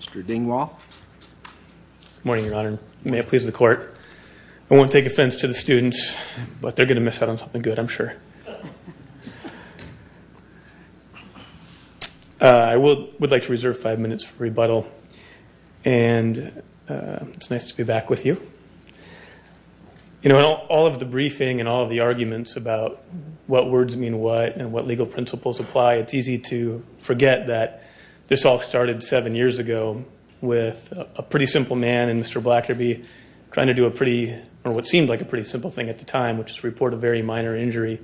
Mr. Dingwall. Morning Your Honor. May it please the court. I won't take offense to the students but they're gonna miss out on something good I'm sure. I would like to reserve five minutes for rebuttal and it's nice to be back with you. You know all of the briefing and all of the arguments about what words mean what and what legal principles apply. It's easy to forget that this all started seven years ago with a pretty simple man and Mr. Blackerby trying to do a pretty or what seemed like a pretty simple thing at the time which is report a very minor injury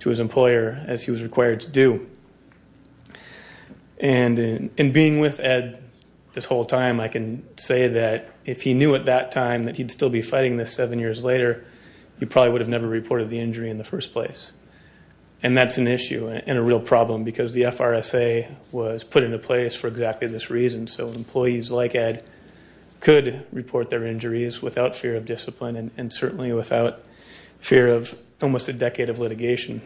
to his employer as he was required to do. And in being with Ed this whole time I can say that if he knew at that time that he'd still be fighting this seven years later he probably would have never reported the injury in the first place. And that's an issue and a real problem because the FRSA was put into place for exactly this reason so employees like Ed could report their injuries without fear of discipline and certainly without fear of almost a decade of litigation.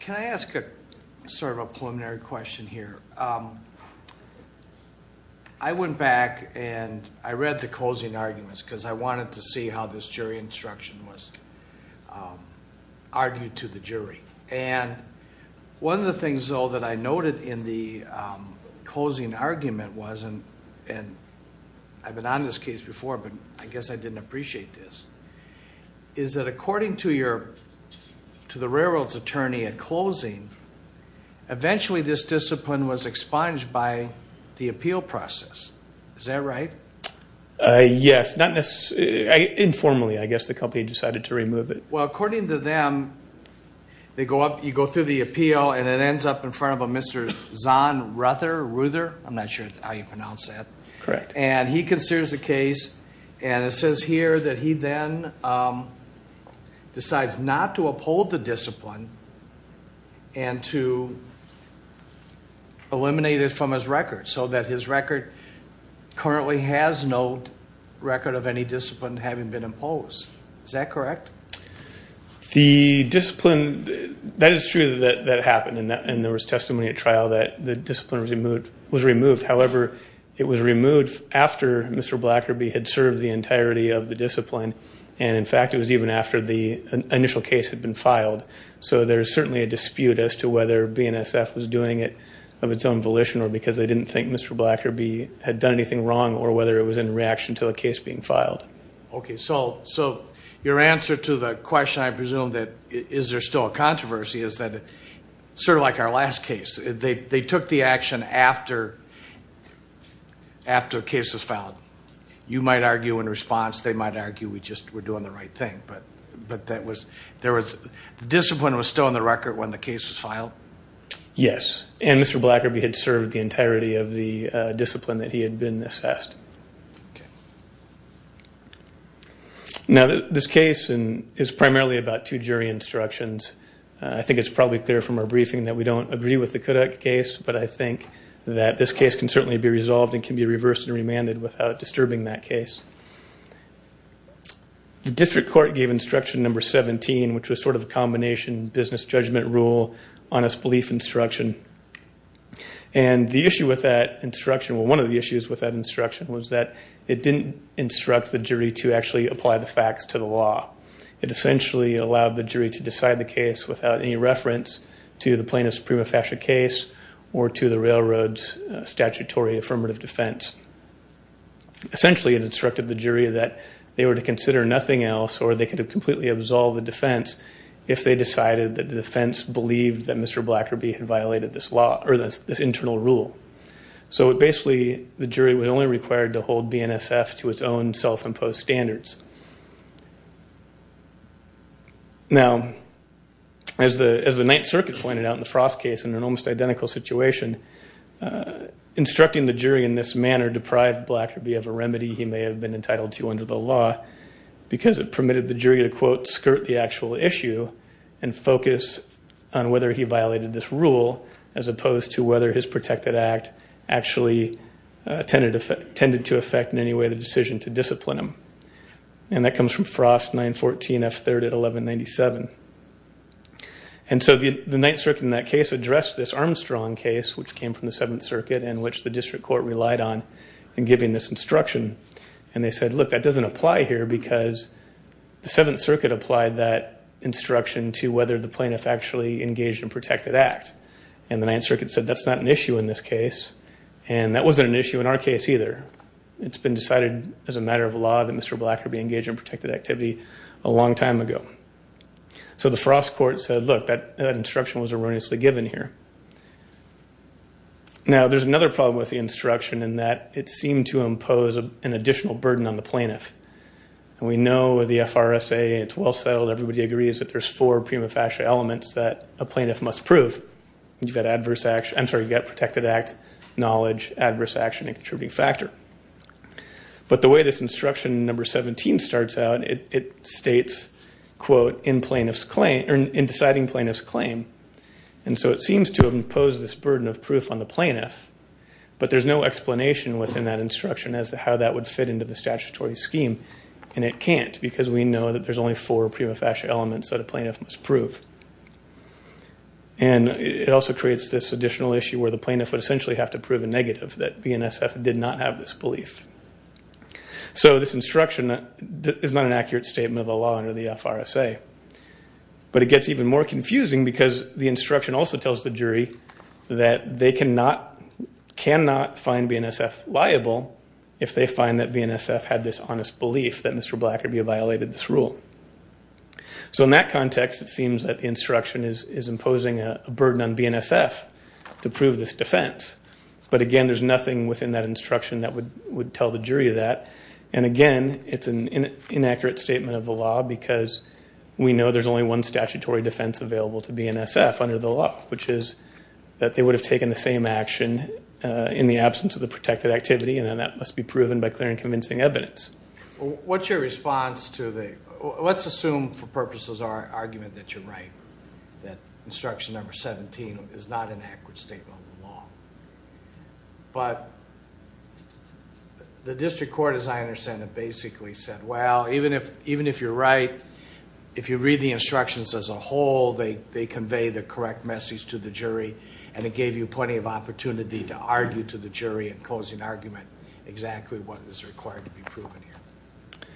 Can I ask a sort of a preliminary question here? I went back and I read the closing arguments because I wanted to see how this jury instruction was argued to the jury. And one of the things though that I noted in the closing argument was and and I've been on this case before but I guess I didn't appreciate this. Is that according to your to the railroads attorney at closing eventually this discipline was expunged by the appeal process. Is that right? Yes, informally I guess the company decided to remove it. Well according to them they go up you go through the appeal and it ends up in front of a Mr. Zahn Ruther. I'm not sure how you pronounce that. Correct. And he considers the case and it says here that he then decides not to currently has no record of any discipline having been imposed. Is that correct? The discipline that is true that that happened and that and there was testimony at trial that the discipline was removed was removed. However it was removed after Mr. Blackerby had served the entirety of the discipline and in fact it was even after the initial case had been filed. So there's certainly a dispute as to whether BNSF was doing it of its own volition or because they didn't think Mr. Blackerby had done anything wrong or whether it was in reaction to a case being filed. Okay so so your answer to the question I presume that is there still a controversy is that sort of like our last case they they took the action after after cases filed. You might argue in response they might argue we just were doing the right thing but but that was there was discipline was still on the record when the case was filed? Yes and Mr. Blackerby had served the entirety of the discipline that he had been assessed. Now this case and is primarily about two jury instructions. I think it's probably clear from our briefing that we don't agree with the Kodak case but I think that this case can certainly be resolved and can be reversed and remanded without disturbing that case. The district court gave instruction number 17 which was sort of a combination business judgment rule honest belief instruction and the issue with that instruction well one of the issues with that instruction was that it didn't instruct the jury to actually apply the facts to the law. It essentially allowed the jury to decide the case without any reference to the plaintiff's prima facie case or to the Railroad's statutory affirmative defense. Essentially it instructed the jury that they were to consider nothing else or they could have completely absolved the defense if they decided that the defense believed that Mr. Blackerby had violated this law or this this internal rule. So it basically the jury was only required to hold BNSF to its own self-imposed standards. Now as the as the Ninth Circuit pointed out in the Frost case in an almost identical situation instructing the jury in this manner deprived Blackerby of a remedy he may have been entitled to under the law because it permitted the jury to quote skirt the actual issue and focus on whether he violated this rule as opposed to whether his protected act actually tended to affect in any way the decision to discipline him. And that comes from Frost 914 F3 at 1197. And so the Ninth Circuit in that case addressed this Armstrong case which came from the Seventh Circuit in which the district court relied on in giving this instruction and they said look that doesn't apply here because the Seventh Circuit applied that instruction to whether the plaintiff actually engaged in protected act and the Ninth Circuit said that's not an issue in this case and that wasn't an issue in our case either. It's been decided as a matter of law that Mr. Blackerby engaged in protected activity a long time ago. So the Frost court said look that instruction was erroneously given here. Now there's another problem with the instruction in that it seemed to impose an additional burden on the plaintiff and we know the FRSA it's well settled everybody agrees that there's four prima facie elements that a plaintiff must prove. You've got adverse action, I'm sorry, you've got protected act, knowledge, adverse action, and contributing factor. But the way this instruction number 17 starts out it states quote in plaintiff's claim or in deciding plaintiff's claim and so it seems to impose this burden of proof on the plaintiff but there's no explanation within that instruction as to how that would fit into the statutory scheme and it can't because we know that there's only four prima facie elements that a plaintiff must prove. And it also creates this additional issue where the plaintiff would essentially have to prove a negative that BNSF did not have this belief. So this instruction is not an accurate statement of the law under the FRSA but it gets even more confusing because the instruction also tells the jury that they cannot, cannot find BNSF liable if they find that BNSF had this honest belief that Mr. Blackerby violated this rule. So in that context it seems that the instruction is imposing a burden on BNSF to prove this defense but again there's nothing within that instruction that would would tell the jury of that and again it's an inaccurate statement of the law because we know there's only one statutory defense available to BNSF under the law which is that they would have taken the same action in the absence of the protected activity and then that must be proven by clear and convincing evidence. What's your response to the, let's assume for purposes our argument that you're right, that instruction number 17 is not an accurate statement of the law. But the district court as I understand it basically said well even if even if you're right if you read the instructions as a whole they they convey the correct message to the jury and it gives them an opportunity to argue to the jury and close an argument exactly what is required to be proven here.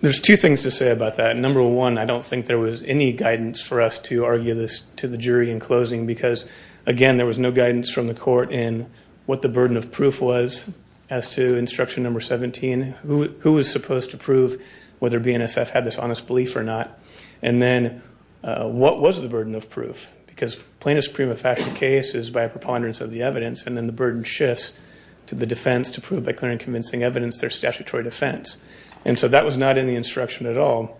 There's two things to say about that. Number one I don't think there was any guidance for us to argue this to the jury in closing because again there was no guidance from the court in what the burden of proof was as to instruction number 17 who who was supposed to prove whether BNSF had this honest belief or not and then what was the burden of proof because plainest prima facie case is by a preponderance of the evidence and then the burden shifts to the defense to prove by clear and convincing evidence their statutory defense and so that was not in the instruction at all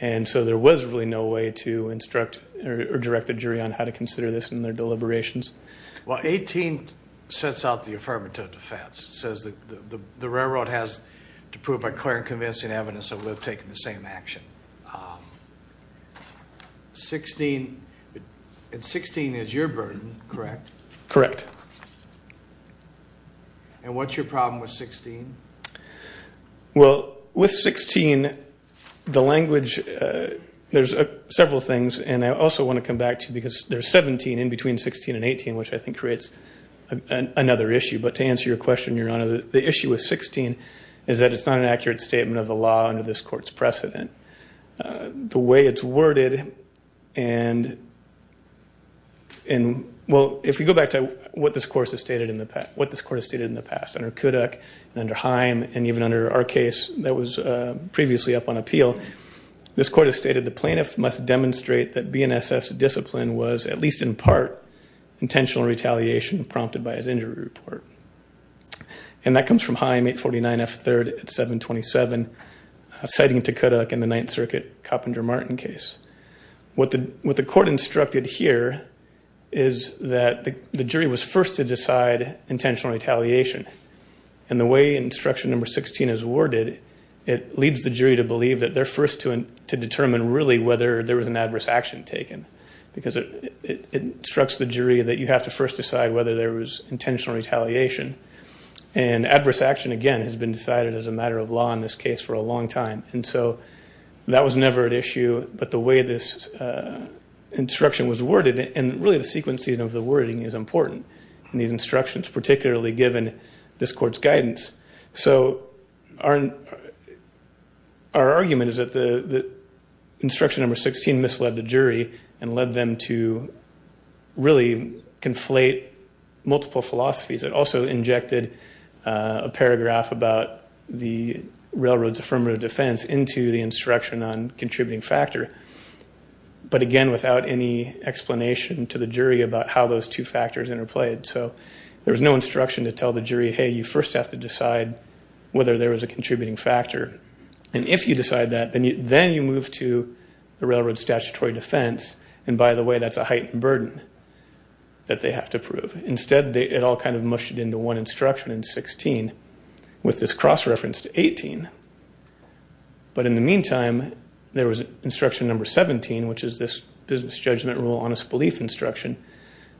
and so there was really no way to instruct or direct the jury on how to consider this in their deliberations. Well 18 sets out the affirmative defense says that the railroad has to prove by clear and convincing evidence that we've taken the same action. 16 and 16 is your burden correct? Correct. And what's your problem with 16? Well with 16 the language there's several things and I also want to come back to because there's 17 in between 16 and 18 which I think creates another issue but to answer your question your honor the issue with 16 is that it's not an accurate statement of the law under this court's precedent the way it's worded and and well if we go back to what this course has stated in the past what this court has stated in the past under Kodak and under Haim and even under our case that was previously up on appeal this court has stated the plaintiff must demonstrate that BNSF's discipline was at least in part intentional retaliation prompted by his injury report and that comes from Haim 849 F 3rd at 727 citing to Kodak in the Ninth Circuit Coppinger Martin case. What the what the court instructed here is that the jury was first to decide intentional retaliation and the way instruction number 16 is worded it leads the jury to believe that they're first to determine really whether there was an adverse action taken because it instructs the jury that you have to first decide whether there was intentional retaliation and adverse action again has been decided as a matter of law in this case for a long time and so that was never an issue but the way this instruction was worded and really the sequencing of the wording is important and these instructions particularly given this court's guidance so our our argument is that the instruction number 16 misled the jury and led them to really conflate multiple philosophies it also injected a paragraph about the Railroad's affirmative defense into the instruction on contributing factor but again without any explanation to the jury about how those two factors interplayed so there was no instruction to tell the jury hey you first have to decide whether there was a contributing factor and if you decide that then you then you move to the Railroad statutory defense and by the way that's a heightened burden that they have to prove instead they it all kind of mushed it into one instruction in 16 with this cross-reference to 18 but in the meantime there was instruction number 17 which is this business judgment rule honest belief instruction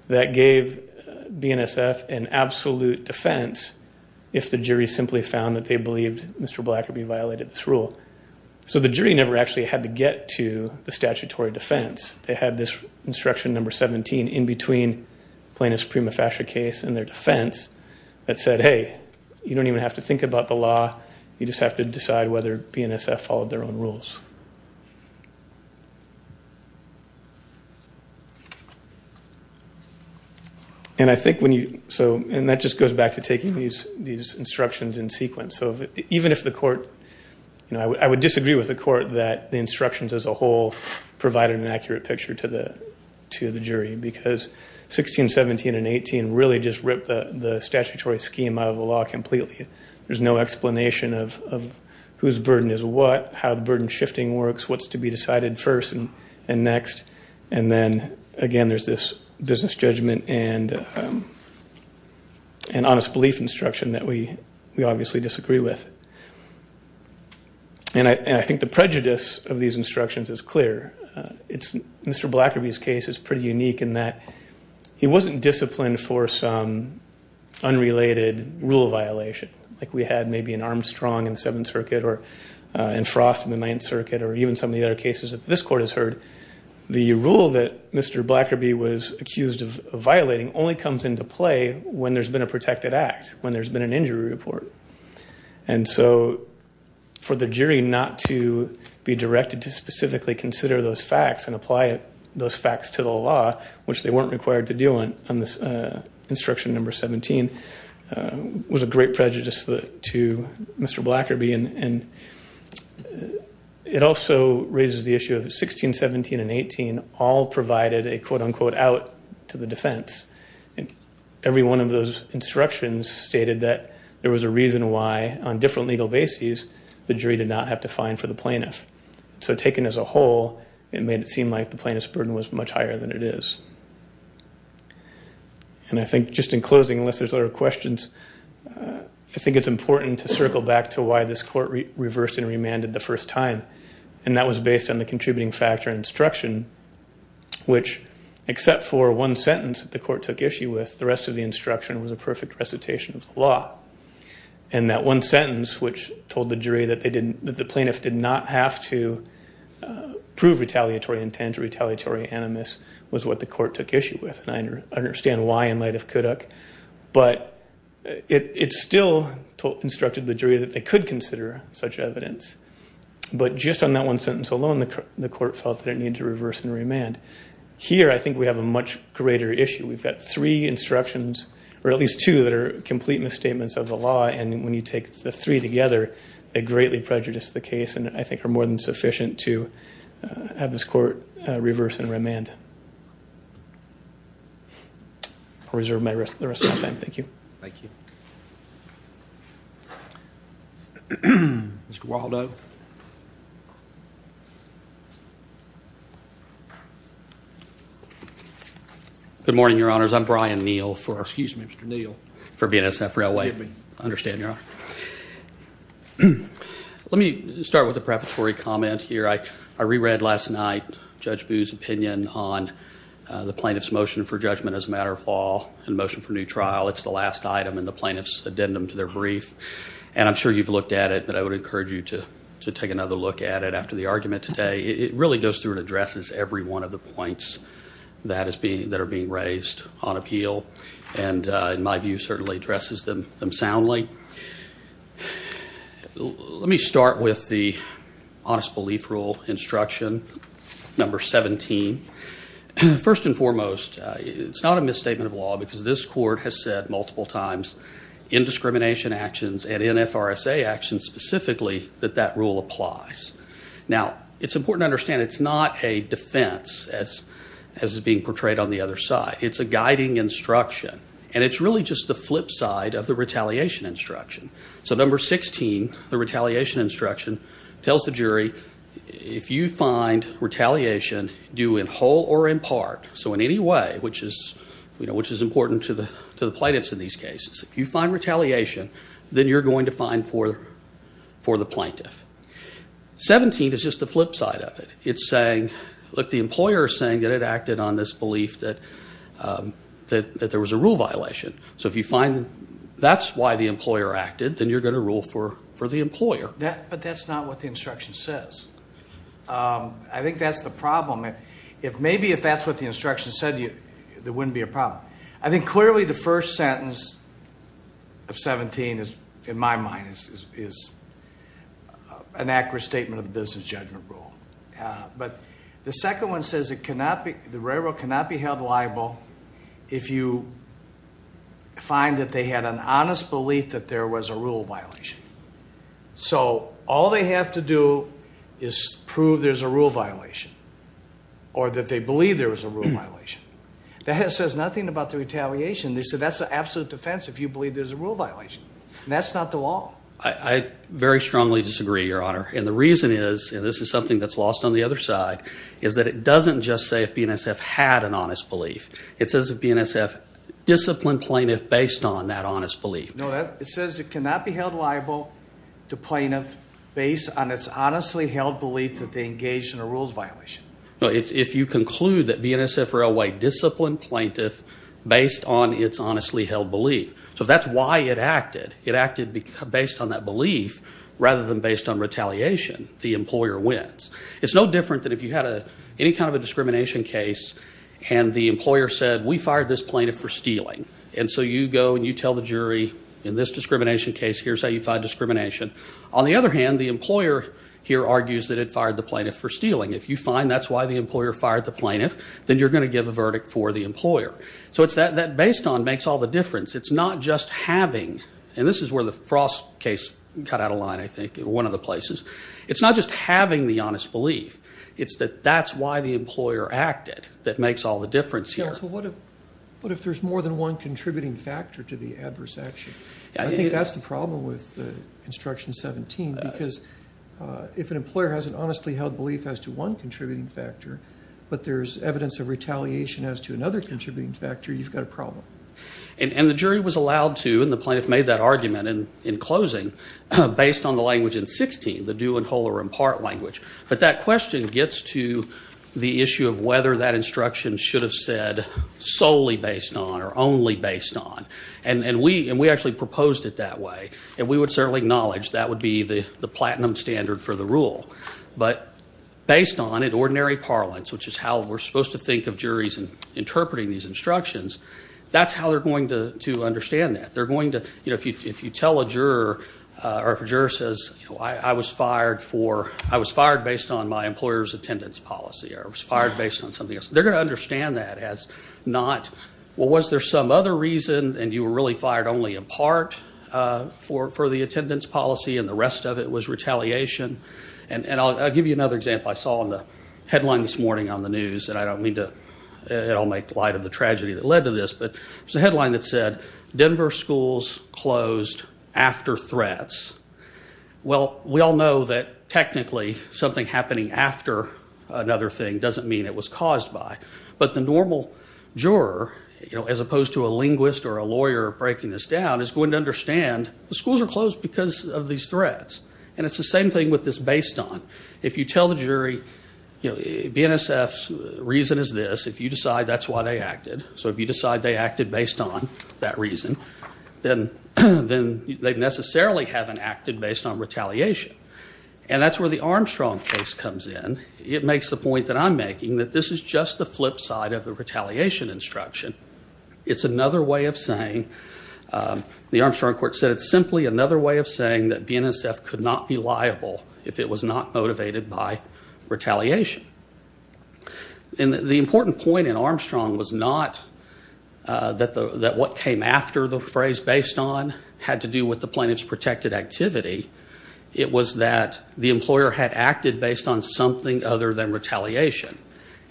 that gave BNSF an absolute defense if the jury simply found that they believed mr. black could be violated this rule so the jury never actually had to get to the statutory defense they had this instruction number 17 in between plaintiff's prima facie case and their defense that said hey you don't even have to think about the law you just have to decide whether BNSF followed their own rules and I think when you so and that just goes back to taking these these instructions in sequence so even if the court you know I would disagree with the court that the instructions as a whole provided an accurate picture to the to the jury because 16 17 and 18 really just ripped the statutory scheme out of the law completely there's no explanation of whose burden is what how the burden shifting works what's to be decided first and and next and then again there's this business judgment and an honest belief instruction that we we obviously disagree with and I think the prejudice of these instructions is clear it's mr. Blacker B's case is pretty unique in that he wasn't disciplined for some unrelated rule of violation like we had maybe an Armstrong in the Seventh Circuit or and frost in the Ninth Circuit or even some of the other cases that this court has heard the rule that mr. Blacker B was accused of violating only comes into play when there's been a protected act when there's been an injury report and so for the jury not to be directed to specifically consider those facts and apply it those facts to the law which they weren't required to do on on this instruction number 17 was a great prejudice that to mr. Blacker B and it also raises the issue of 16 17 and 18 all provided a quote-unquote out to the defense and every one of those instructions stated that there was a reason why on different legal bases the jury did not have to find for the it made it seem like the plaintiff's burden was much higher than it is and I think just in closing unless there's other questions I think it's important to circle back to why this court reversed and remanded the first time and that was based on the contributing factor instruction which except for one sentence the court took issue with the rest of the instruction was a perfect recitation of the law and that one sentence which told the jury that they retaliatory animus was what the court took issue with and I understand why in light of Kodak but it still instructed the jury that they could consider such evidence but just on that one sentence alone the court felt that it needed to reverse and remand here I think we have a much greater issue we've got three instructions or at least two that are complete misstatements of the law and when you take the three together they greatly prejudiced the case and I think are more than sufficient to have this court reverse and remand I'll reserve my rest the rest of my time thank you thank you Mr. Waldo good morning your honors I'm Brian Neal for excuse me Mr. Neal for BNSF railway understand your honor hmm let me start with a preparatory comment here I I reread last night judge booze opinion on the plaintiffs motion for judgment as a matter of law and motion for new trial it's the last item in the plaintiffs addendum to their brief and I'm sure you've looked at it but I would encourage you to to take another look at it after the argument today it really goes through and addresses every one of the points that is being that are being raised on appeal and in my view certainly addresses them soundly let me start with the honest belief rule instruction number 17 first and foremost it's not a misstatement of law because this court has said multiple times in discrimination actions and in FRSA actions specifically that that rule applies now it's important to understand it's not a defense as as is being portrayed on the other side it's a guiding instruction and it's really just the flip side of the retaliation instruction so number 16 the retaliation instruction tells the jury if you find retaliation do in whole or in part so in any way which is you know which is important to the to the plaintiffs in these cases if you find retaliation then you're going to find for for the plaintiff 17 is just the flip side of it it's saying look the employer is saying that it acted on this belief that that there was a rule violation so if you find that's why the employer acted then you're going to rule for for the employer that but that's not what the instruction says I think that's the problem if maybe if that's what the instruction said you there wouldn't be a problem I think clearly the first sentence of 17 is in my mind is an accurate statement of the business judgment rule but the second one says it cannot be the railroad cannot be held liable if you find that they had an honest belief that there was a rule violation so all they have to do is prove there's a rule violation or that they believe there was a rule violation that has says nothing about the retaliation they said that's the absolute defense if you believe there's a rule violation and that's not the law I very strongly disagree your honor and the reason is and this is something that's lost on the other side is that it doesn't just say if BNSF had an honest belief it says if BNSF disciplined plaintiff based on that honest belief no that it says it cannot be held liable to plaintiff based on its honestly held belief that they engaged in a rules violation no it's if you conclude that BNSF railway disciplined plaintiff based on its honestly held belief so that's why it acted it acted based on that belief rather than based on retaliation the employer wins it's no different than if you had a any kind of a discrimination case and the employer said we fired this plaintiff for stealing and so you go and you tell the jury in this discrimination case here's how you find discrimination on the other hand the employer here argues that it fired the plaintiff for stealing if you find that's why the employer fired the plaintiff then you're going to give a verdict for the employer so it's that that based on makes all the difference it's not just having and this is where the frost case cut out a line I think one of the places it's not just having the honest belief it's that that's why the employer acted that makes all the difference here but if there's more than one contributing factor to the adverse action I think that's the problem with the instruction 17 because if an employer has an honestly held belief as to one contributing factor but there's evidence of retaliation as to another contributing factor you've got a in closing based on the language in 16 the do and whole or in part language but that question gets to the issue of whether that instruction should have said solely based on or only based on and and we and we actually proposed it that way and we would certainly acknowledge that would be the the platinum standard for the rule but based on an ordinary parlance which is how we're supposed to think of juries and interpreting these instructions that's how they're going to to understand that they're going to you know if you if you tell a juror or if a juror says I was fired for I was fired based on my employers attendance policy I was fired based on something else they're gonna understand that as not well was there some other reason and you were really fired only a part for for the attendance policy and the rest of it was retaliation and and I'll give you another example I saw in the headline this morning on the news and I don't mean to it'll make light of the tragedy that led to this but the headline that said Denver schools closed after threats well we all know that technically something happening after another thing doesn't mean it was caused by but the normal juror you know as opposed to a linguist or a lawyer breaking this down is going to understand the schools are closed because of these threats and it's the same thing with this based on if you tell the jury you know BNSF's reason is this if you decide that's why they acted so if you decide they acted based on that reason then then they've necessarily haven't acted based on retaliation and that's where the Armstrong case comes in it makes the point that I'm making that this is just the flip side of the retaliation instruction it's another way of saying the Armstrong court said it's simply another way of saying that BNSF could not be liable if it was not motivated by retaliation and the important point in that the that what came after the phrase based on had to do with the plaintiffs protected activity it was that the employer had acted based on something other than retaliation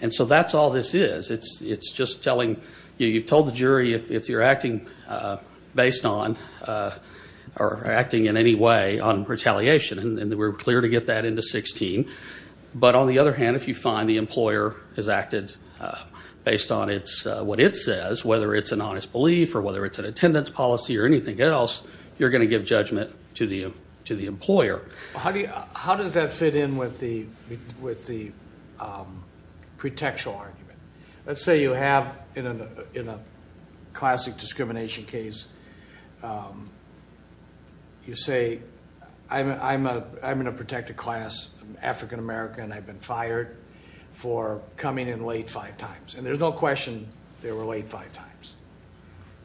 and so that's all this is it's it's just telling you you told the jury if you're acting based on or acting in any way on retaliation and we're clear to get that into 16 but on the other hand if you find the employer has acted based on it's what it says whether it's an honest belief or whether it's an attendance policy or anything else you're going to give judgment to the to the employer how do you how does that fit in with the with the pretextual argument let's say you have in a in a classic discrimination case you say I'm I'm in a protected class African-American I've been fired for coming in late five times and there's no question there were late five times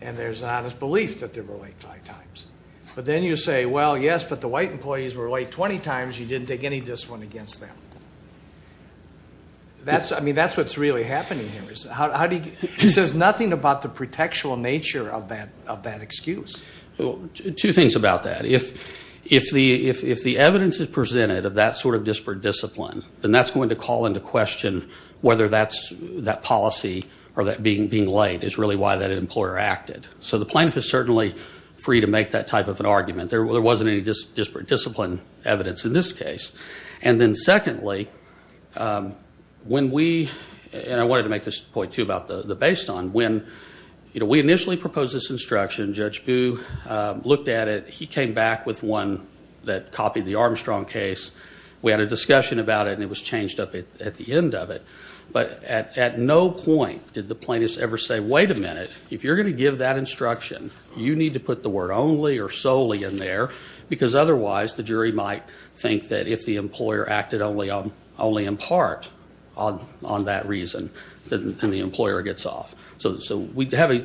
and there's an honest belief that there were late five times but then you say well yes but the white employees were late 20 times you didn't take any discipline against them that's I mean that's what's really happening here is how do you he says nothing about the pretextual nature of that of that excuse two things about that if if the if the evidence is presented of that sort of disparate discipline then that's going to call into question whether that's that policy or that being being late is really why that employer acted so the plaintiff is certainly free to make that type of an argument there wasn't any just disparate discipline evidence in this case and then secondly when we and I wanted to make this point to about the the based on when you know we initially proposed this instruction judge boo looked at it he came back with one that copied the Armstrong case we had a discussion about it and it was changed up at the end of it but at no point did the plaintiffs ever say wait a minute if you're going to give that instruction you need to put the word only or solely in there because otherwise the jury might think that if the employer acted only on only in part on that reason the employer gets off so we'd have a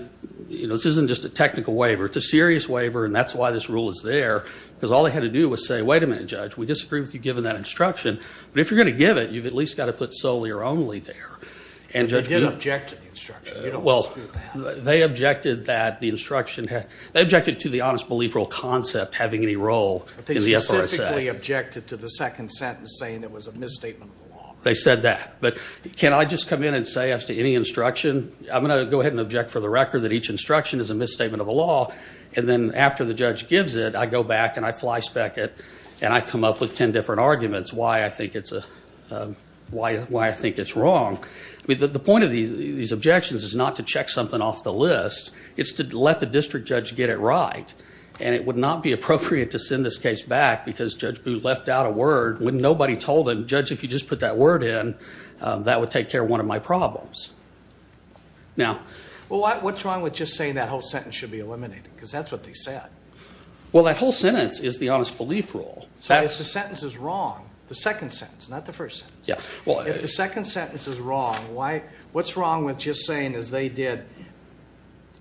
you know this isn't just a technical waiver it's a serious waiver and that's why this rule is there because all I had to do was say wait a minute judge we disagree with you given that instruction but if you're going to give it you've at least got to put solely or only there and you don't object to the instruction well they objected that the instruction had objected to the honest believer all concept having any role they objected to the second sentence saying it was a misstatement they said that but can I just come in and say as to any instruction I'm gonna go ahead and object for the record that each instruction is a misstatement of a law and then after the judge gives it I go back and I fly speck it and I come up with ten different arguments why I think it's a why why I think it's wrong I mean the point of these objections is not to check something off the list it's to let the district judge get it right and it would not be appropriate to send this case back because judge boo left out a word when nobody told him judge if you just put that word in that would take care of one of my problems now well what's wrong with just saying that whole sentence should be eliminated because that's what they said well that whole sentence is the honest belief rule so it's the sentence is wrong the second sentence not the first yeah well if the second sentence is wrong why what's wrong with just saying as they did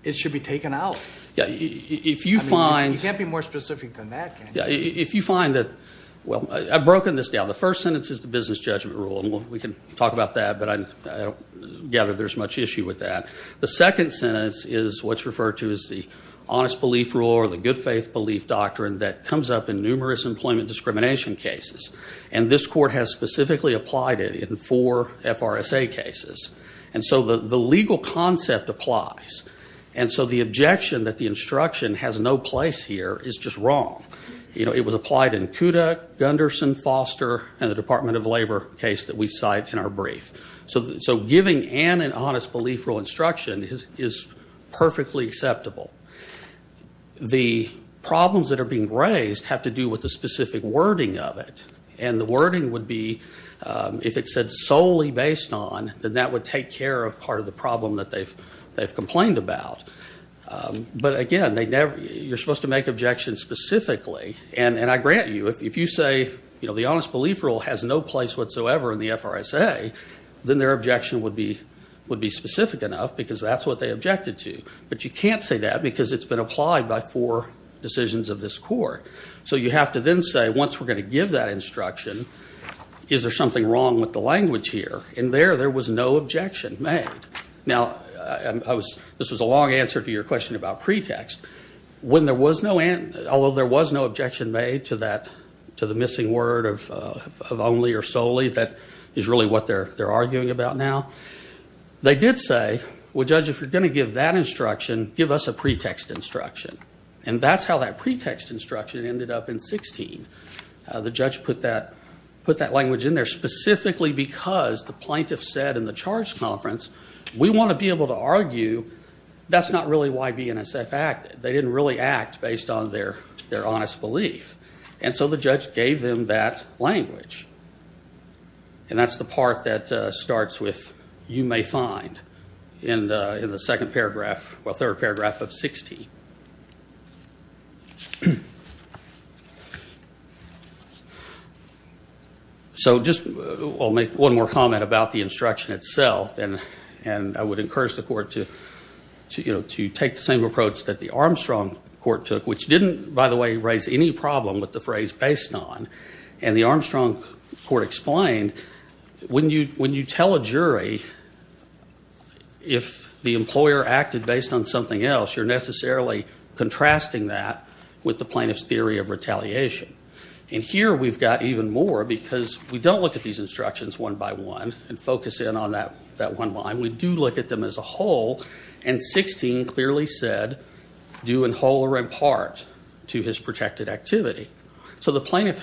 it should be taken out yeah if you find you can't be more specific than that yeah if you find that well I've broken this down the first sentence is the business judgment rule and we can talk about that but I gather there's much issue with that the second sentence is what's referred to as the honest belief rule or the good faith belief doctrine that comes up in numerous employment discrimination cases and this court has specifically applied it in four FRSA cases and so the the legal concept applies and so the objection that the and the Department of Labor case that we cite in our brief so so giving an an honest belief rule instruction is perfectly acceptable the problems that are being raised have to do with the specific wording of it and the wording would be if it said solely based on then that would take care of part of the problem that they've they've complained about but again they never you're you if you say you know the honest belief rule has no place whatsoever in the FRSA then their objection would be would be specific enough because that's what they objected to but you can't say that because it's been applied by four decisions of this court so you have to then say once we're going to give that instruction is there something wrong with the language here and there there was no objection made now I was this was a long answer to your question about pretext when there was no and although there was no objection made to that to the missing word of only or solely that is really what they're they're arguing about now they did say well judge if you're gonna give that instruction give us a pretext instruction and that's how that pretext instruction ended up in 16 the judge put that put that language in there specifically because the plaintiff said in the charge conference we want to be able to argue that's not really why BNSF act they didn't really act based on their their honest belief and so the judge gave them that language and that's the part that starts with you may find in the in the second paragraph well third paragraph of 16 so just I'll make one more comment about the instruction itself and and I would encourage the approach that the Armstrong court took which didn't by the way raise any problem with the phrase based on and the Armstrong court explained when you when you tell a jury if the employer acted based on something else you're necessarily contrasting that with the plaintiff's theory of retaliation and here we've got even more because we don't look at these instructions one by one and focus in on that that one line we do look at them as a whole and 16 clearly said do in whole or in part to his protected activity so the plaintiff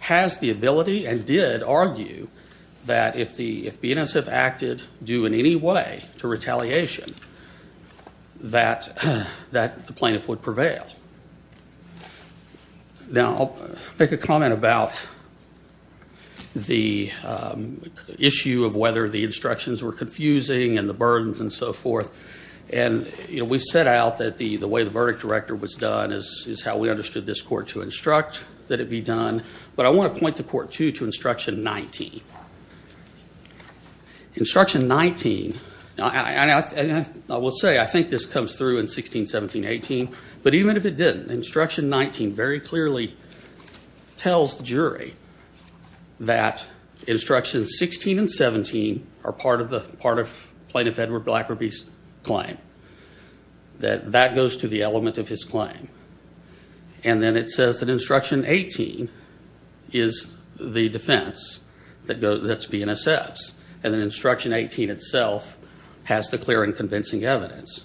has the ability and did argue that if the if BNSF acted do in any way to retaliation that that the plaintiff would prevail now I'll make a comment about the issue of whether the instructions were confusing and the you know we've set out that the the way the verdict director was done as is how we understood this court to instruct that it be done but I want to point the court to to instruction 19 instruction 19 and I will say I think this comes through in 16 17 18 but even if it didn't instruction 19 very clearly tells the jury that instruction 16 and 17 are part of the part of plaintiff Edward BlackRuby's claim that that goes to the element of his claim and then it says that instruction 18 is the defense that goes that's BNSF's and then instruction 18 itself has the clear and convincing evidence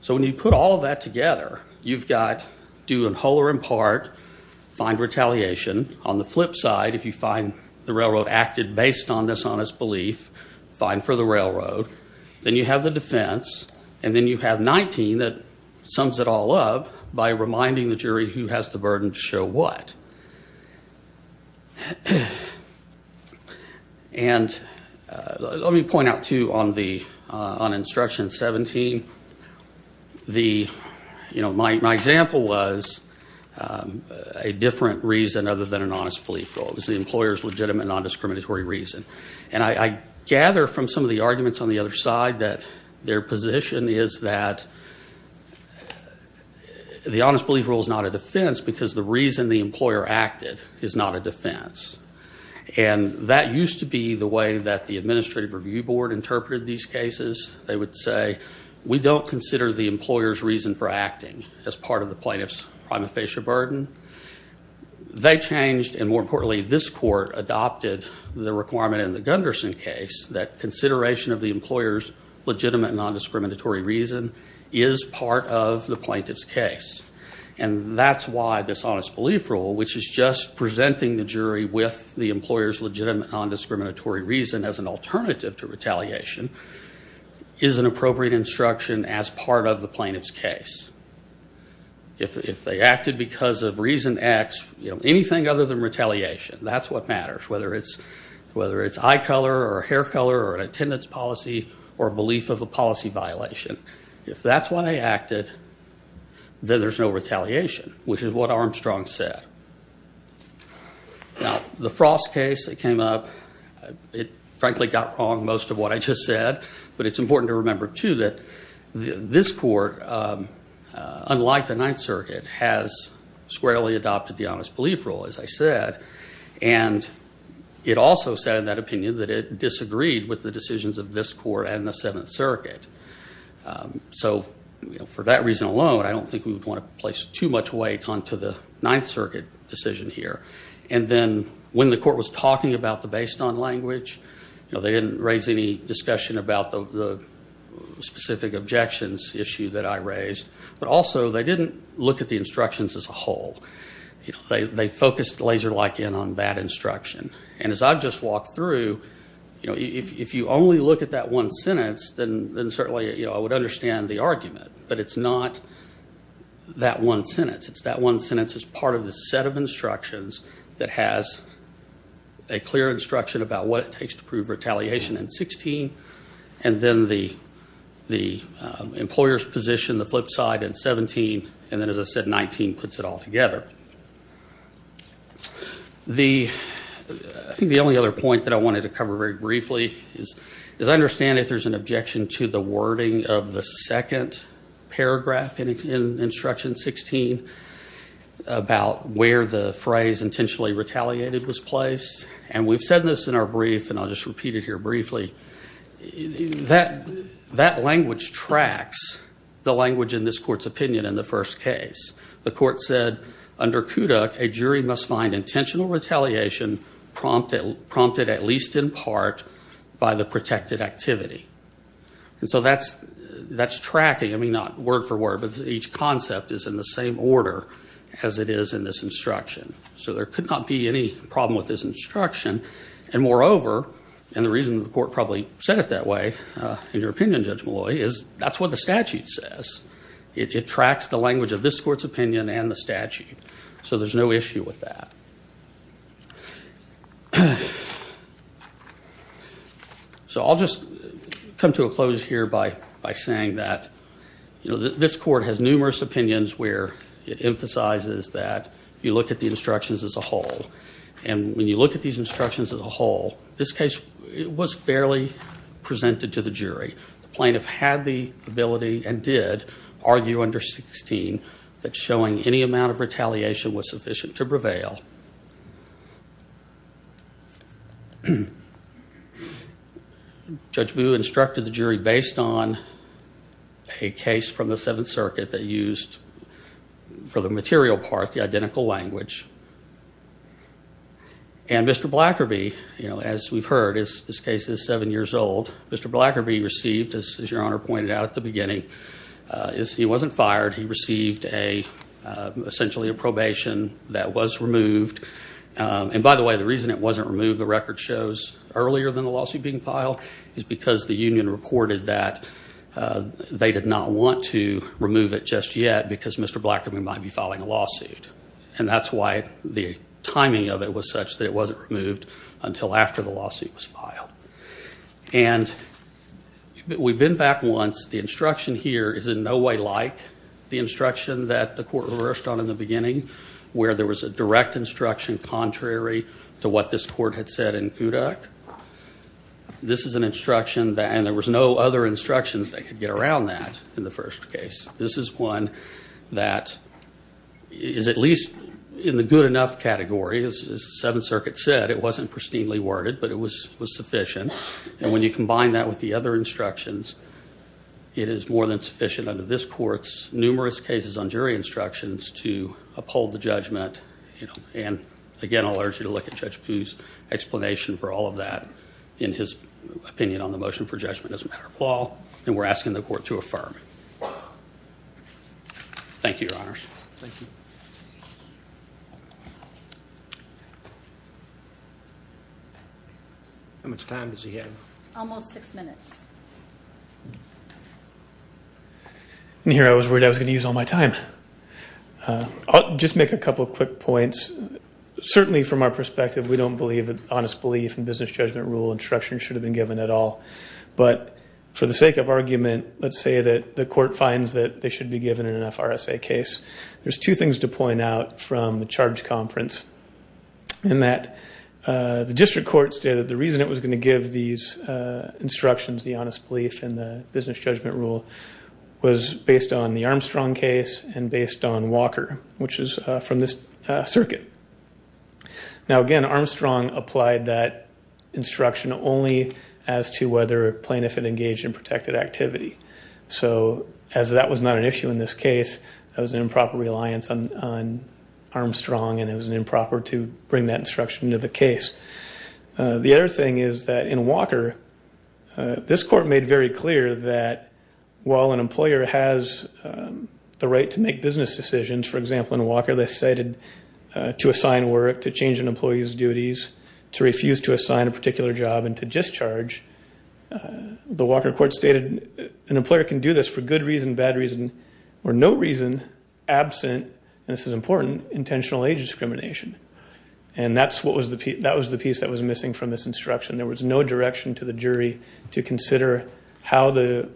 so when you put all of that together you've got do in whole or in part find retaliation on the flip side if you find the railroad acted based on this honest belief fine for the defense and then you have 19 that sums it all up by reminding the jury who has the burden to show what and let me point out to on the on instruction 17 the you know my example was a different reason other than an honest belief goal is the employers legitimate non-discriminatory reason and I gather from some of the their position is that the honest belief rule is not a defense because the reason the employer acted is not a defense and that used to be the way that the administrative review board interpreted these cases they would say we don't consider the employers reason for acting as part of the plaintiffs on the facial burden they changed and more importantly this court adopted the requirement in the Gunderson case that consideration of the employers legitimate non-discriminatory reason is part of the plaintiffs case and that's why this honest belief rule which is just presenting the jury with the employers legitimate non-discriminatory reason as an alternative to retaliation is an appropriate instruction as part of the plaintiffs case if they acted because of reason X anything other than retaliation that's what matters whether it's eye color or hair color or an attendance policy or belief of a policy violation if that's what I acted then there's no retaliation which is what Armstrong said now the frost case that came up it frankly got wrong most of what I just said but it's important to remember too that this court unlike the Ninth Circuit has squarely adopted the honest belief rule as I said and it also said in that opinion that it disagreed with the decisions of this court and the Seventh Circuit so for that reason alone I don't think we would want to place too much weight on to the Ninth Circuit decision here and then when the court was talking about the based on language you know they didn't raise any discussion about the specific objections issue that I raised but also they didn't look at the instructions as a whole you know they focused laser-like in on that instruction and as I've just walked through you know if you only look at that one sentence then then certainly you know I would understand the argument but it's not that one sentence it's that one sentence as part of the set of instructions that has a clear instruction about what it takes to prove retaliation and 16 and then the the employers position the flip side and 17 and then as I said 19 puts it all together the I think the only other point that I wanted to cover very briefly is as I understand if there's an objection to the wording of the second paragraph in instruction 16 about where the phrase intentionally retaliated was placed and we've said this in our brief and I'll just repeat it here briefly that that language tracks the language in this court's opinion in the first case the court said under Kodak a jury must find intentional retaliation prompted prompted at least in part by the protected activity and so that's that's tracking I mean not word for word but each concept is in the same order as it is in this instruction so there could not be any problem with this instruction and moreover and the reason the court probably said it that way in your opinion judge Malloy is that's what the it tracks the language of this court's opinion and the statute so there's no issue with that so I'll just come to a close here by by saying that you know this court has numerous opinions where it emphasizes that you look at the instructions as a whole and when you look at these instructions as a whole this case it was fairly presented to the jury the plaintiff had the ability and did argue under 16 that showing any amount of retaliation was sufficient to prevail judge Boo instructed the jury based on a case from the Seventh Circuit that used for the material part the identical language and mr. Blacker be you know as we've heard is this case is seven years old mr. Blacker be received as your honor pointed out at the beginning is he wasn't fired he received a essentially a probation that was removed and by the way the reason it wasn't removed the record shows earlier than the lawsuit being filed is because the Union reported that they did not want to remove it just yet because mr. Blackman might be following a lawsuit and that's why the timing of it was such that it wasn't removed until after the lawsuit was filed and we've been back once the instruction here is in no way like the instruction that the court reversed on in the beginning where there was a direct instruction contrary to what this court had said in Kodak this is an instruction that and there was no other instructions they could get around that in the first case this is one that is at least in the good enough category as the Seventh Circuit said it wasn't pristinely worded but it was was sufficient and when you combine that with the other instructions it is more than sufficient under this courts numerous cases on jury instructions to uphold the judgment and again I'll urge you to look at judge whose explanation for all of that in his opinion on the motion for judgment doesn't matter Paul and we're asking the court to affirm it thank you your honors how much time does he have almost six minutes and here I was worried I was gonna use all my time I'll just make a couple of quick points certainly from our perspective we don't believe that honest belief and business judgment rule instruction should have been given at all but for the sake of argument let's say that the court finds that they should be given in an FRSA case there's two things to point out from the charge conference in that the district court stated the reason it was going to give these instructions the honest belief and the business judgment rule was based on the Armstrong case and based on Walker which is from this circuit now again Armstrong that instruction only as to whether plaintiff and engaged in protected activity so as that was not an issue in this case that was an improper reliance on Armstrong and it was an improper to bring that instruction to the case the other thing is that in Walker this court made very clear that while an employer has the right to make business decisions for example in Walker they cited to sign work to change an employee's duties to refuse to assign a particular job and to discharge the Walker court stated an employer can do this for good reason bad reason or no reason absent and this is important intentional age discrimination and that's what was the Pete that was the piece that was missing from this instruction there was no direction to the jury to consider how the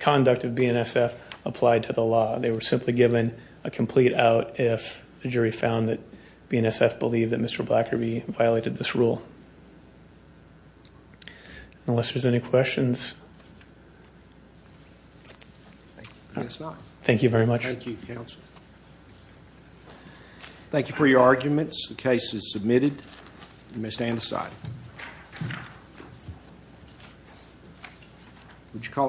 conduct of BNSF applied to the law they were simply given a complete out if the jury found that BNSF believed that mr. Blacker be violated this rule unless there's any questions thank you very much thank you for your arguments the case is submitted you may stand aside would you call